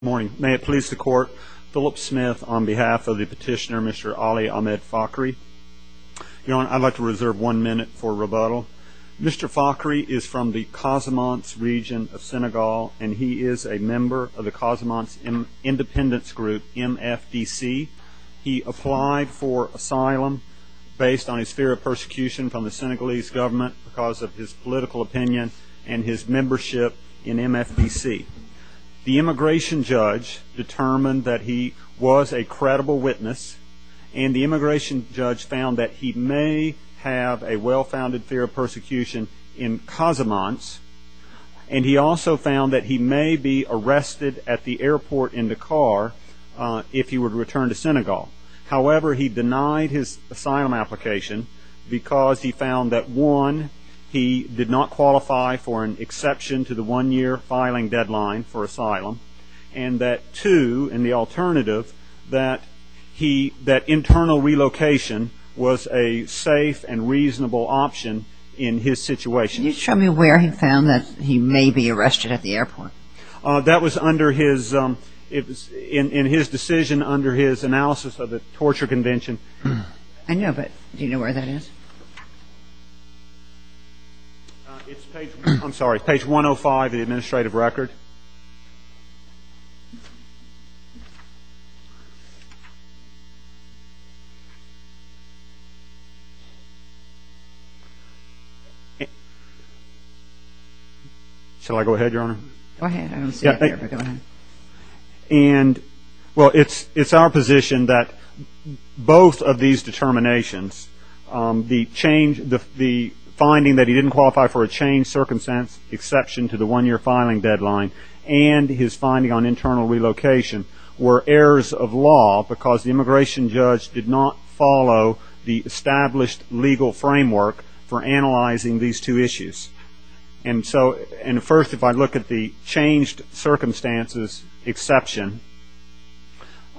Good morning. May it please the Court, Philip Smith on behalf of the petitioner Mr. Ali Ahmed Fakhry. Your Honor, I'd like to reserve one minute for rebuttal. Mr. Fakhry is from the Casamance region of Senegal, and he is a member of the Casamance Independence Group, MFDC. He applied for asylum based on his fear of persecution from the Senegalese government because of his political opinion and his membership in MFDC. The immigration judge determined that he was a credible witness, and the immigration judge found that he may have a well-founded fear of persecution in Casamance, and he also found that he may be arrested at the airport in Dakar if he were to return to Senegal. However, he denied his return. He did not qualify for an exception to the one-year filing deadline for asylum, and that two, and the alternative, that internal relocation was a safe and reasonable option in his situation. Can you show me where he found that he may be arrested at the airport? That was under his, in his decision under his analysis of the torture convention. I know, but do you know where that is? It's page, I'm sorry, page 105 of the administrative record. Shall I go ahead, Your Honor? Go ahead. I don't see it there, but go ahead. And, well, it's our position that both of these determinations, the change, the finding that he didn't qualify for a changed circumstance exception to the one-year filing deadline, and his finding on internal relocation were errors of law because the immigration judge did not follow the established legal framework for analyzing these two issues. And so, and first, if I look at the changed circumstances exception,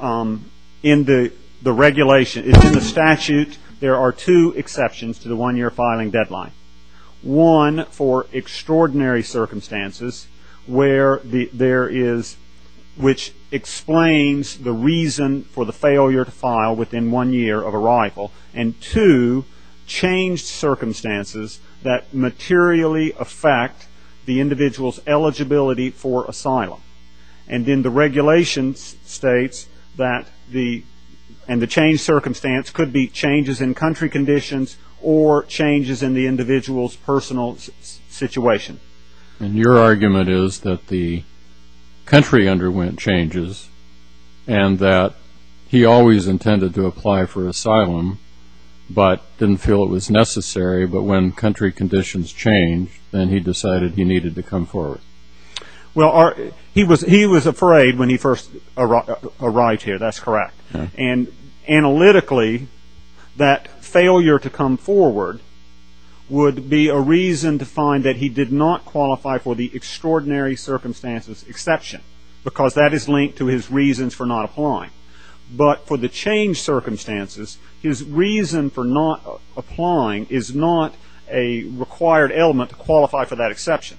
in the regulation, it's in the statute, there are two exceptions to the one-year filing deadline. One, for extraordinary circumstances where there is, which explains the reason for the failure to file within one year of the individual's eligibility for asylum. And in the regulations states that the, and the changed circumstance could be changes in country conditions or changes in the individual's personal situation. And your argument is that the country underwent changes and that he always intended to apply for asylum, but didn't feel it was necessary, but when country conditions changed, then he decided he needed to come forward. Well, he was afraid when he first arrived here, that's correct. And analytically, that failure to come forward would be a reason to find that he did not qualify for the extraordinary circumstances exception, because that is linked to his reasons for not applying. But for the changed circumstances, his reason for not applying is not a required element to qualify for that exception.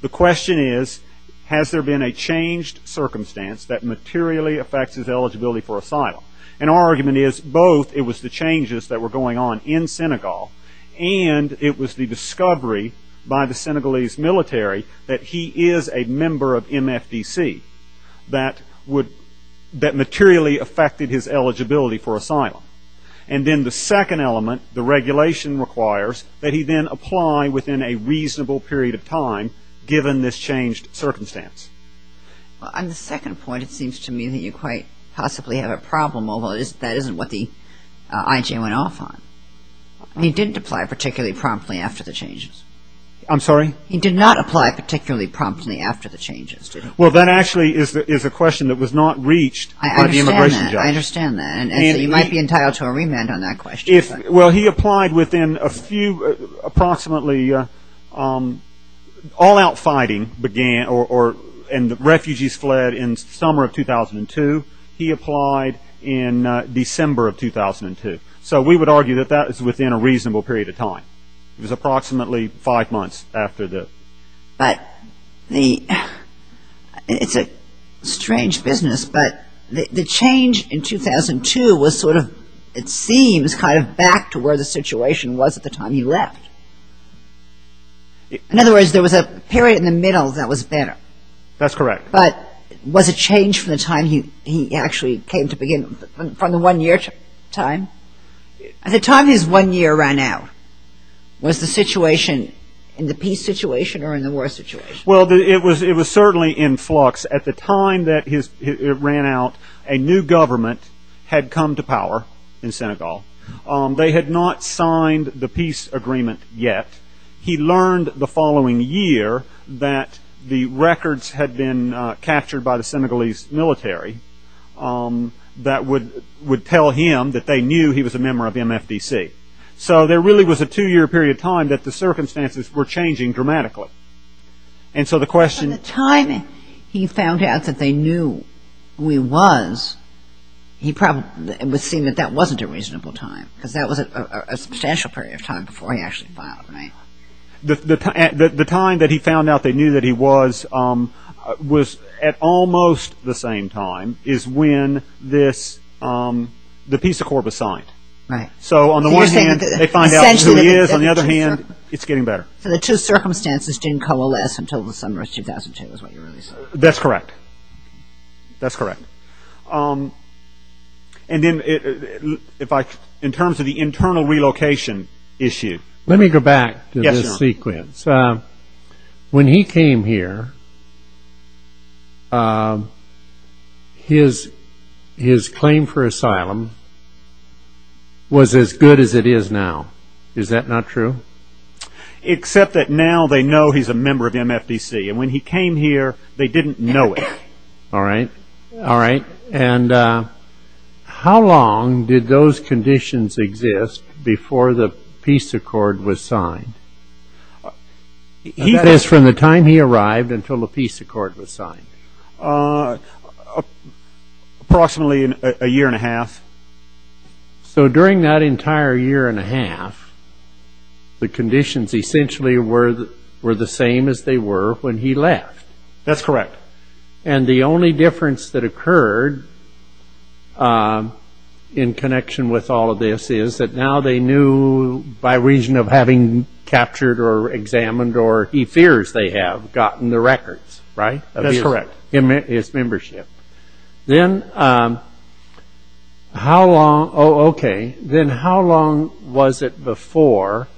The question is, has there been a changed circumstance that materially affects his eligibility for asylum? And our argument is, both it was the changes that were going on in Senegal, and it was the discovery by the Senegalese military that he is a member of MFDC, that would, that materially affected his eligibility for asylum. And then the second element, the regulation requires that he then apply within a reasonable period of time, given this changed circumstance. Well, on the second point, it seems to me that you quite possibly have a problem, although that isn't what the IJ went off on. He didn't apply particularly promptly after the changes. I'm sorry? He did not apply particularly promptly after the changes, did he? Well, that actually is a question that was not reached by the immigration judge. I understand that. You might be entitled to a remand on that question. Well, he applied within a few, approximately, all out fighting began, and refugees fled in the summer of 2002. He applied in December of 2002. So we would argue that that is within a reasonable period of time. It was approximately five months after the. But the, it's a strange business, but the change in 2002 was sort of, it seems, kind of back to where the situation was at the time he left. In other words, there was a period in the middle that was better. That's correct. But was it changed from the time he actually came to begin, from the one-year time? At the time his one-year ran out, was the situation in the peace situation or in the war situation? Well, it was certainly in flux. At the time that it ran out, a new government had come to power in Senegal. They had not signed the peace agreement yet. He learned the following year that the records had been captured by the Senegalese military that would tell him that they knew he was a member of MFDC. So there really was a two-year period of time that the circumstances were changing dramatically. And so the question. By the time he found out that they knew who he was, he probably, it would seem that that wasn't a reasonable time, because that was a substantial period of time before he actually filed a name. The time that he found out they knew that he was, was at almost the same time is when this, the peace accord was signed. So on the one hand, they find out who he is, on the other hand, it's getting better. So the two circumstances didn't coalesce until the summer of 2002 is what you're saying. That's correct. That's correct. And then, if I, in terms of the internal relocation issue. Let me go back to this sequence. When he came here, his, his claim for asylum was as good as it is now. Is that not true? Except that now they know he's a member of MFDC. And when he came here, they didn't know it. All right. All right. And how long did those conditions exist before the peace accord was signed? He says from the time he arrived until the peace accord was signed. Approximately a year and a half. So during that entire year and a half, the conditions essentially were, were the same as they were when he left. That's correct. And the only difference that occurred in connection with all of this is that now they knew by reason of having captured or examined, or he fears they have, gotten the records, right? That's correct. Of his membership. Then how long, oh, okay. Then how long was it before,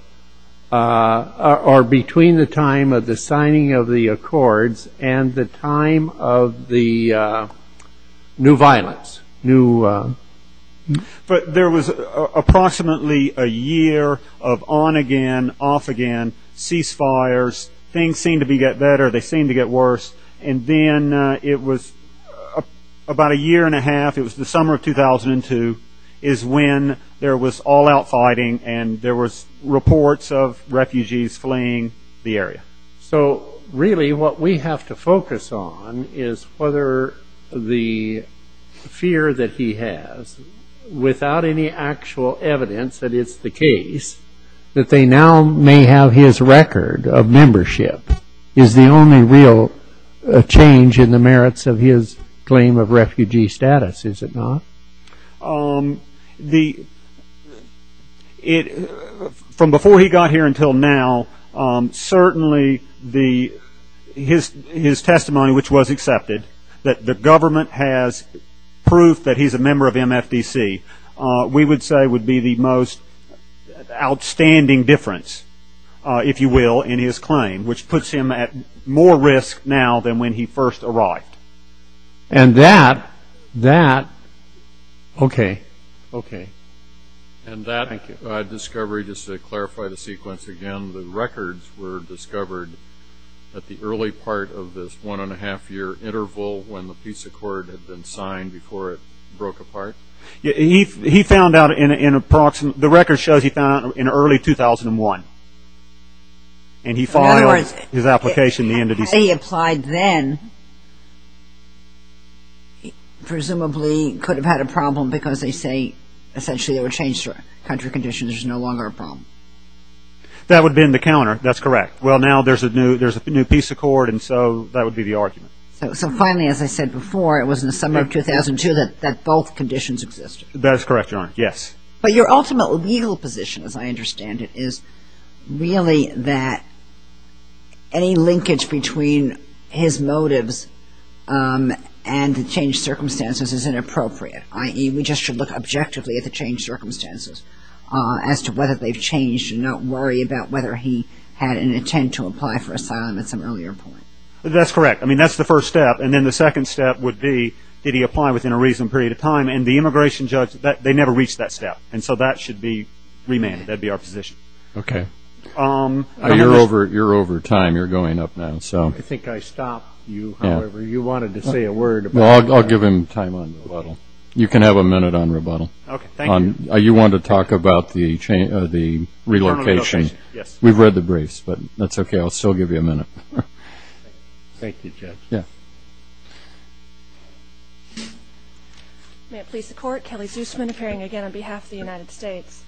or between the time of the signing of the accords and the time of the new violence? New, but there was approximately a year of on again, off again, cease fires. Things seemed to get better. They seemed to get worse. And then it was about a year and a half, it was the summer of 2002, is when there was all out fighting and there was reports of refugees fleeing the area. So really what we have to focus on is whether the fear that he has, without any actual evidence that it's the case, that they now may have his record of membership, is the only real change in the merits of his claim of refugee status, is it not? From before he got here until now, certainly his testimony, which was accepted, that the government has proof that he's a member of MFDC, we would say would be the most outstanding difference, if you will, in his claim, which puts him at more risk now than when he first arrived. And that discovery, just to clarify the sequence again, the records were discovered at the early part of this one and a half year interval when the peace accord had been signed before it broke apart? He found out in approximately, the record shows he found out in early 2001. And he filed his application in the end of December. As far as how he applied then, presumably could have had a problem because they say essentially there were changed country conditions, there's no longer a problem. That would have been the counter, that's correct. Well now there's a new peace accord and so that would be the argument. So finally, as I said before, it was in the summer of 2002 that both conditions existed. That is correct, Your Honor, yes. But your ultimate legal position, as I understand it, is really that any linkage between his motives and the changed circumstances is inappropriate, i.e. we just should look objectively at the changed circumstances as to whether they've changed and not worry about whether he had an intent to apply for asylum at some earlier point. That's correct. I mean, that's the first step. And then the second step would be did he apply within a reasonable period of time? And the immigration judge, they never reached that step. And so that should be remanded. That would be our position. Okay. You're over time, you're going up now. I think I stopped you, however, you wanted to say a word. Well, I'll give him time on rebuttal. You can have a minute on rebuttal. Okay, thank you. You wanted to talk about the relocation. We've read the briefs, but that's okay, I'll still give you a minute. Thank you, Judge. Yeah. May it please the Court, Kelly Zusman, appearing again on behalf of the United States.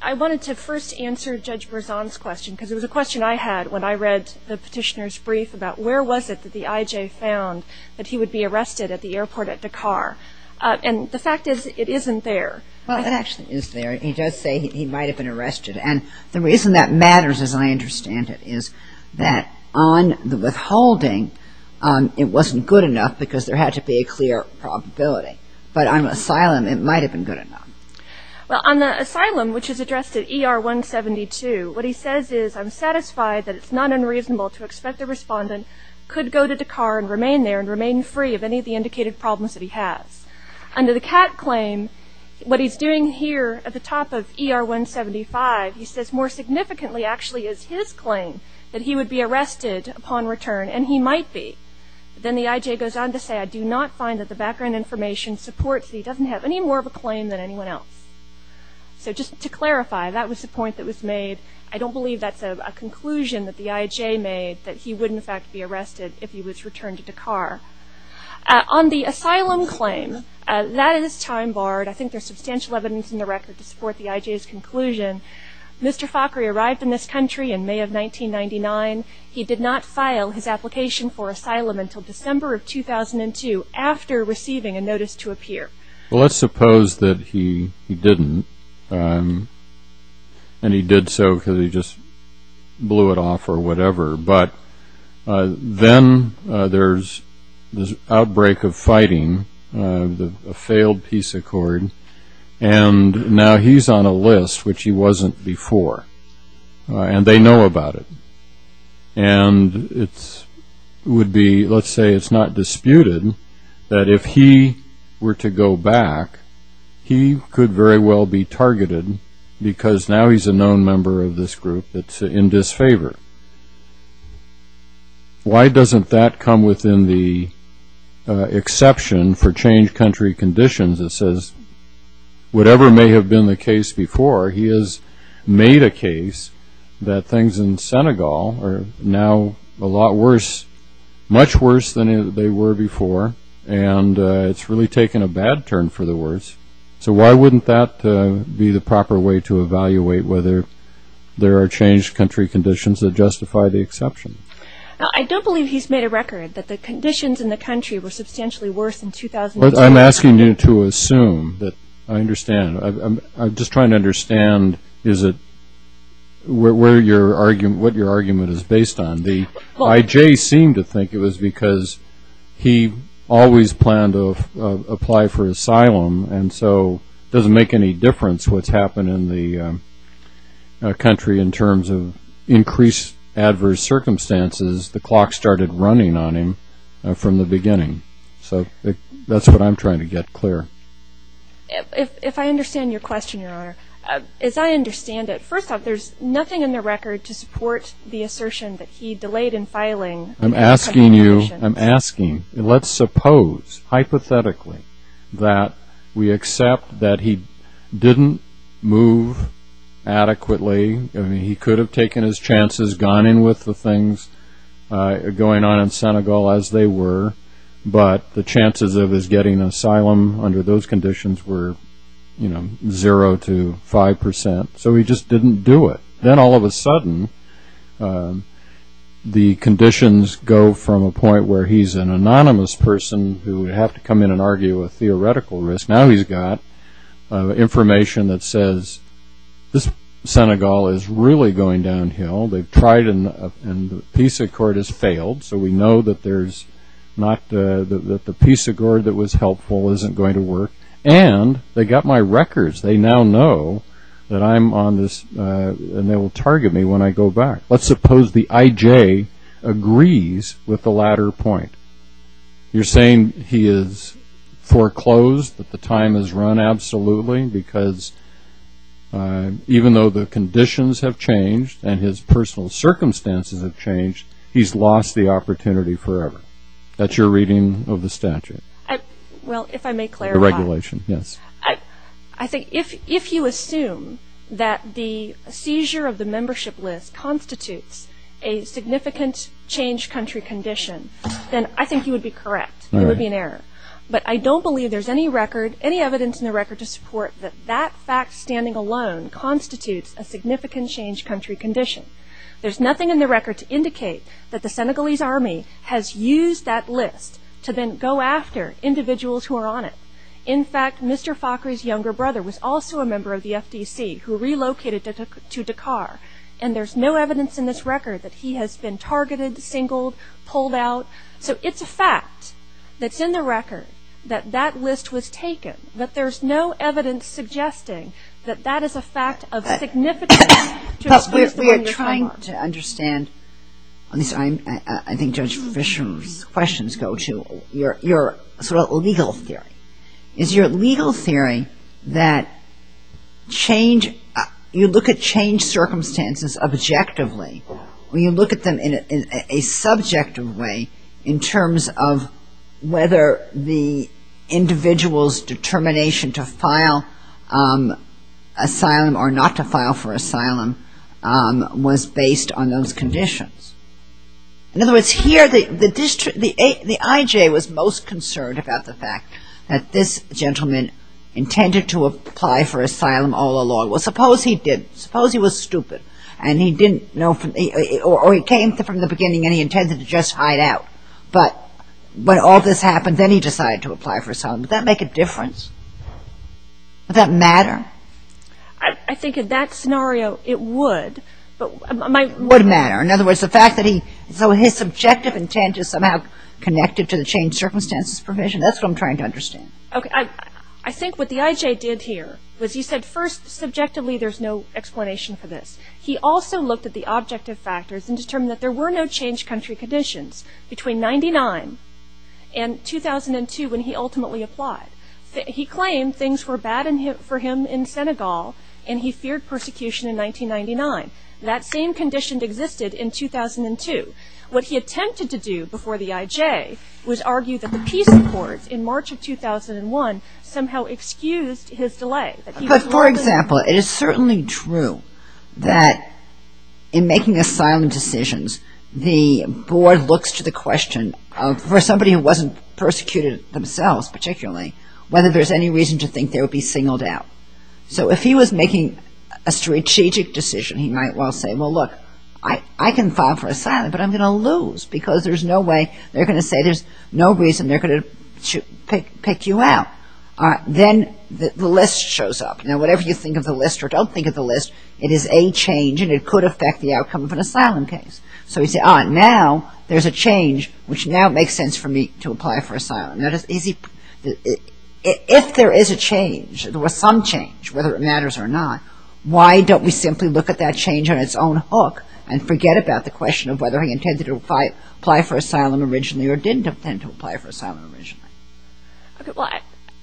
I wanted to first answer Judge Berzon's question, because it was a question I had when I read the Petitioner's brief about where was it that the IJ found that he would be arrested at the airport at Dakar? And the fact is, it isn't there. Well, it actually is there. He does say he might have been arrested. And the reason that it wasn't good enough, because there had to be a clear probability. But on asylum, it might have been good enough. Well, on the asylum, which is addressed at ER 172, what he says is, I'm satisfied that it's not unreasonable to expect a respondent could go to Dakar and remain there and remain free of any of the indicated problems that he has. Under the CAT claim, what he's doing here at the top of ER 175, he says more significantly, actually, is his claim that he would be arrested upon return, and he might be. Then the IJ goes on to say, I do not find that the background information supports that he doesn't have any more of a claim than anyone else. So just to clarify, that was the point that was made. I don't believe that's a conclusion that the IJ made, that he would, in fact, be arrested if he was returned to Dakar. On the asylum claim, that is time barred. I think there's substantial evidence in the record to support the IJ's conclusion. Mr. Fakhry arrived in this country in May of 1999. He did not file his application for asylum until December of 2002, after receiving a notice to appear. Well, let's suppose that he didn't, and he did so because he just blew it off or whatever, but then there's this outbreak of fighting, a failed peace accord, and now he's on a list, which he wasn't before, and they know about it. And it would be, let's say, it's not disputed that if he were to go back, he could very well be targeted because now he's a known member of this group that's in disfavor. Why doesn't that come within the exception for change country conditions that says, whatever may have been the case before, he has made a case that things in Senegal are now a lot worse, much worse than they were before, and it's really taken a bad turn for the worse. So why wouldn't that be the proper way to evaluate whether there are changed country conditions that justify the exception? I don't believe he's made a record that the conditions in the country were substantially worse in 2002. I'm asking you to assume that I understand. I'm just trying to understand what your argument is based on. The I.J. seemed to think it was because he always planned to apply for asylum, and so it doesn't make any difference what's happened in the country in terms of increased adverse circumstances. The clock started running on him from the beginning. So that's what I'm trying to get clear. If I understand your question, Your Honor, as I understand it, first off, there's nothing in the record to support the assertion that he delayed in filing. I'm asking you, I'm asking. Let's suppose, hypothetically, that we accept that he didn't move adequately. I mean, he could have taken his chances, gone in with the things going on in Senegal as they were, but the chances of his getting asylum under those conditions were, you know, zero to five percent. So he just didn't do it. Then all of a sudden, the conditions go from a point where he's an anonymous person who would have to come in and argue a theoretical risk. Now he's got information that says this Senegal is really going downhill. They've tried, and the peace accord has failed, so we know that there's not, that the peace accord that was helpful isn't going to work. And they got my records. They now know that I'm on this, and they will target me when I go back. Let's suppose the IJ agrees with the latter point. You're saying he has foreclosed, that the time has run absolutely, because even though the conditions have changed and his personal circumstances have changed, he's lost the opportunity forever. That's your reading of the statute. Well, if I may clarify. The regulation, yes. I think if you assume that the seizure of the membership list constitutes a significant change country condition, then I think you would be correct. It would be an error. But I don't believe there's any record, any evidence in the record to support that that fact standing alone constitutes a significant change country condition. There's nothing in the record to indicate that the Senegalese army has used that list to then go after individuals who are on it. In fact, Mr. Fakhri's younger brother was also a member of the FDC who relocated to Dakar, and there's no evidence in this record that he has been targeted, singled, pulled out. So it's a fact that's in the record that that list was taken, but there's no evidence suggesting that that is a fact of significance to what you're talking about. But we are trying to understand, at least I think Judge Fisher's questions go to, your sort of legal theory. Is your legal theory that change, you look at change circumstances objectively, or you look at them in a subjective way in terms of whether the individual's determination to file asylum or not to file for asylum was based on those conditions? In other words, here the I.J. was most concerned about the fact that this gentleman intended to apply for asylum all along. Well, suppose he did. Suppose he was stupid, and he didn't know, or he came from the beginning and he intended to just hide out. But when all this happens, would that matter? I think in that scenario it would, but my It would matter. In other words, the fact that he, so his subjective intent is somehow connected to the change circumstances provision, that's what I'm trying to understand. I think what the I.J. did here was he said first subjectively there's no explanation for this. He also looked at the objective factors and determined that there were no change country conditions between 99 and 2002 when he ultimately applied. He claimed things were bad for him in Senegal, and he feared persecution in 1999. That same condition existed in 2002. What he attempted to do before the I.J. was argue that the peace accords in March of 2001 somehow excused his delay. But for example, it is certainly true that in making asylum decisions, the board looks to the question of for somebody who wasn't persecuted themselves particularly, whether there's any reason to think they would be singled out. So if he was making a strategic decision, he might well say, well, look, I can file for asylum, but I'm going to lose because there's no way they're going to say there's no reason they're going to pick you out. Then the list shows up. Whatever you think of the list or don't think of the list, it is a change, and it could affect the outcome of an asylum case. So he said, ah, now there's a change which now makes sense for me to apply for asylum. If there is a change, there was some change, whether it matters or not, why don't we simply look at that change on its own hook and forget about the question of whether he intended to apply for asylum originally or didn't intend to apply for asylum originally. OK, well,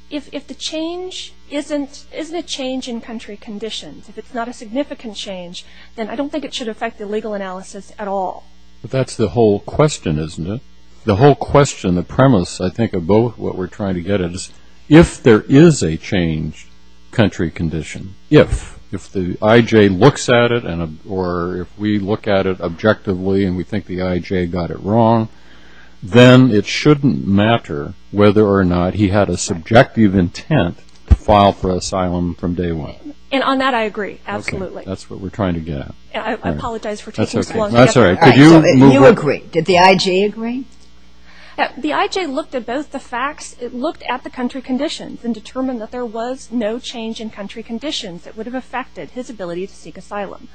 if the change isn't a change in country conditions, if it's not a significant change, then I don't think it should affect the legal analysis at all. That's the whole question, isn't it? The whole question, the premise, I think, of both what we're trying to get at is if there is a change, country condition, if, if the IJ looks at it, or if we look at it objectively and we think the IJ got it wrong, then it shouldn't matter whether or not he had a subjective intent to file for asylum from day one. And on that I agree, absolutely. OK, that's what we're trying to get at. I apologize for taking so long. That's all right. All right, so you agree. Did the IJ agree? The IJ looked at both the facts, it looked at the country conditions, and determined that there was no change in country conditions that would have affected his ability to seek asylum.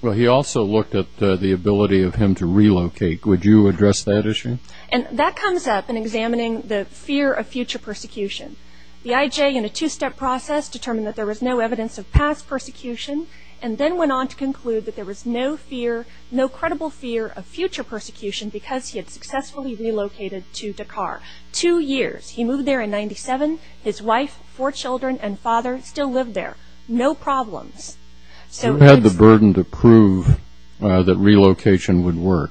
Well, he also looked at the ability of him to relocate. Would you address that issue? And that comes up in examining the fear of future persecution. The IJ, in a two-step process, determined that there was no evidence of past persecution, and then went on to conclude that there was no fear, no credible fear, of future persecution because he had successfully relocated to Dakar. Two years. He moved there in 97. His wife, four children, and father still live there. No problems. Who had the burden to prove that relocation would work?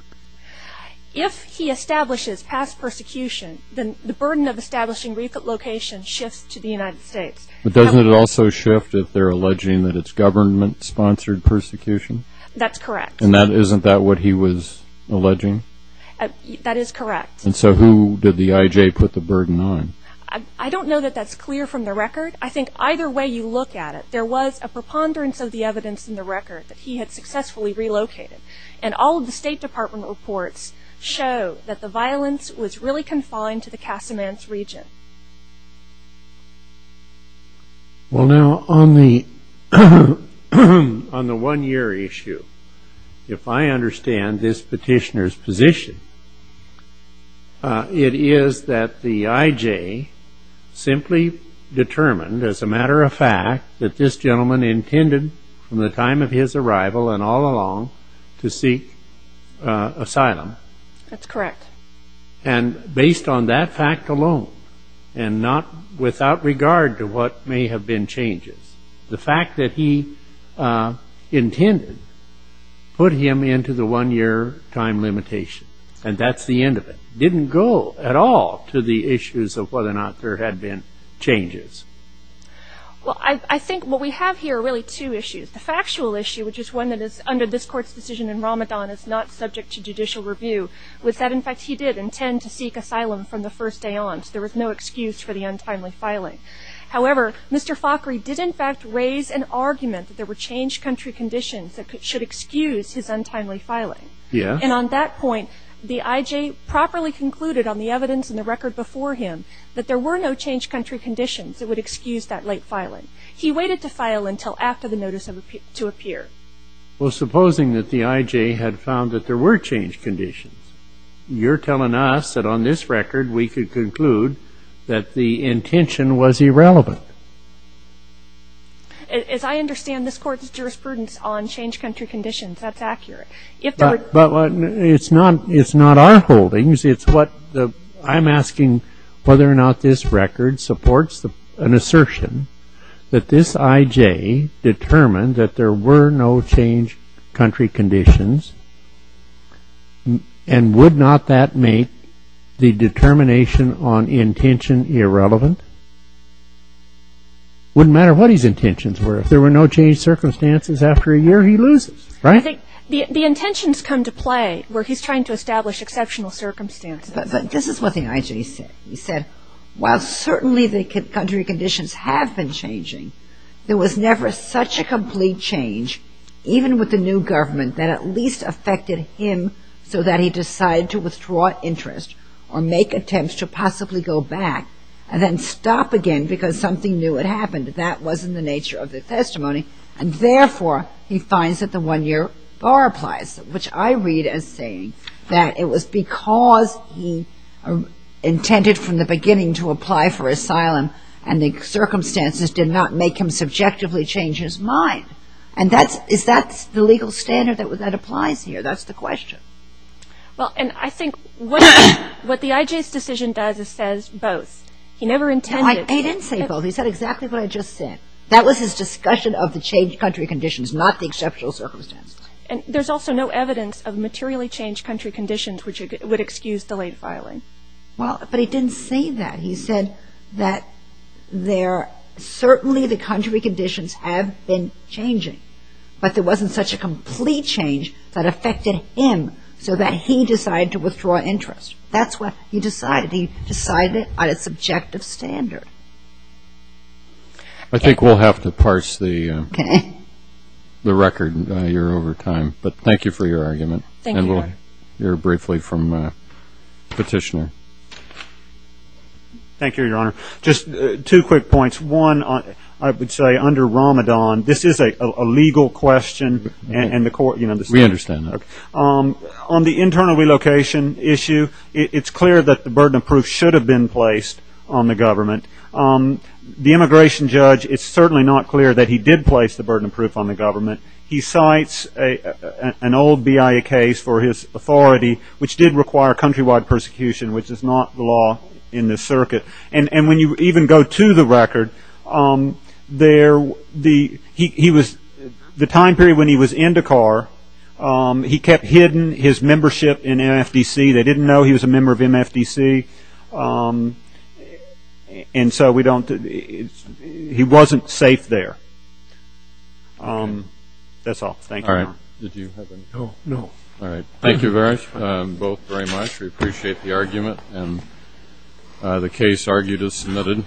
If he establishes past persecution, then the burden of establishing relocation shifts to the United States. But doesn't it also shift if they're alleging that it's government-sponsored persecution? That's correct. And isn't that what he was alleging? That is correct. And so who did the IJ put the burden on? I don't know that that's clear from the record. I think either way you look at it, there was a preponderance of the evidence in the record that he had successfully relocated. And all of the State Department reports show that the violence was really confined to the Casamance region. Well, now, on the one-year issue, if I understand this petitioner's position, it is that the government intended, from the time of his arrival and all along, to seek asylum. That's correct. And based on that fact alone, and not without regard to what may have been changes, the fact that he intended put him into the one-year time limitation. And that's the end of it. Didn't go at all to the issues of whether or not there had been changes. Well, I think what we have here are really two issues. The factual issue, which is one that is under this Court's decision in Ramadan, is not subject to judicial review, was that, in fact, he did intend to seek asylum from the first day on. So there was no excuse for the untimely filing. However, Mr. Fakhry did, in fact, raise an argument that there were changed country conditions that should excuse his untimely filing. Yes. And on that point, the IJ properly concluded on the evidence in the record before him that there were no changed country conditions that would excuse that late filing. He waited to file until after the notice to appear. Well, supposing that the IJ had found that there were changed conditions, you're telling us that on this record we could conclude that the intention was irrelevant. As I understand, this Court's jurisprudence on changed country conditions, that's accurate. But it's not our holdings. I'm asking whether or not this record supports an assertion that this IJ determined that there were no changed country conditions, and would not that make the determination on intention irrelevant? Wouldn't matter what his intentions were. If there were no changed circumstances after a year, he loses, right? I think the intentions come to play where he's trying to establish exceptional circumstances. But this is what the IJ said. He said, while certainly the country conditions have been changing, there was never such a complete change, even with the new government, that at least affected him so that he decided to withdraw interest or make attempts to possibly go back and then stop again because something new had happened. That wasn't the nature of the testimony, and therefore he finds that the one-year bar applies, which I read as saying that it was because he intended from the beginning to apply for asylum and the circumstances did not make him subjectively change his mind. And that's the legal standard that applies here. That's the question. Well, and I think what the IJ's decision does is says both. He never intended. He didn't say both. He said exactly what I just said. That was his discussion of the changed country conditions, not the exceptional circumstances. And there's also no evidence of materially changed country conditions, which would excuse delayed filing. Well, but he didn't say that. He said that there certainly the country conditions have been changing, but there wasn't such a complete change that affected him so that he decided to withdraw interest. That's what he decided. He decided on a subjective standard. I think we'll have to parse the record. You're over time. But thank you for your argument. Thank you, Your Honor. And we'll hear briefly from the petitioner. Thank you, Your Honor. Just two quick points. One, I would say under Ramadan, this is a legal question and the court, you know, the standard. We understand that. On the internal relocation issue, it's clear that the burden of proof should have been placed on the government. The immigration judge, it's certainly not clear that he did place the burden of proof on the government. He cites an old BIA case for his authority, which did require countrywide persecution, which is not the law in this circuit. And when you even go to the record, the time period when he was in Dakar, he kept hidden his membership in MFDC. They didn't know he was a member of MFDC. And so we don't he wasn't safe there. That's all. Thank you, Your Honor. All right. Did you have any? No. All right. Thank you both very much. We appreciate the argument. And the case argued is submitted.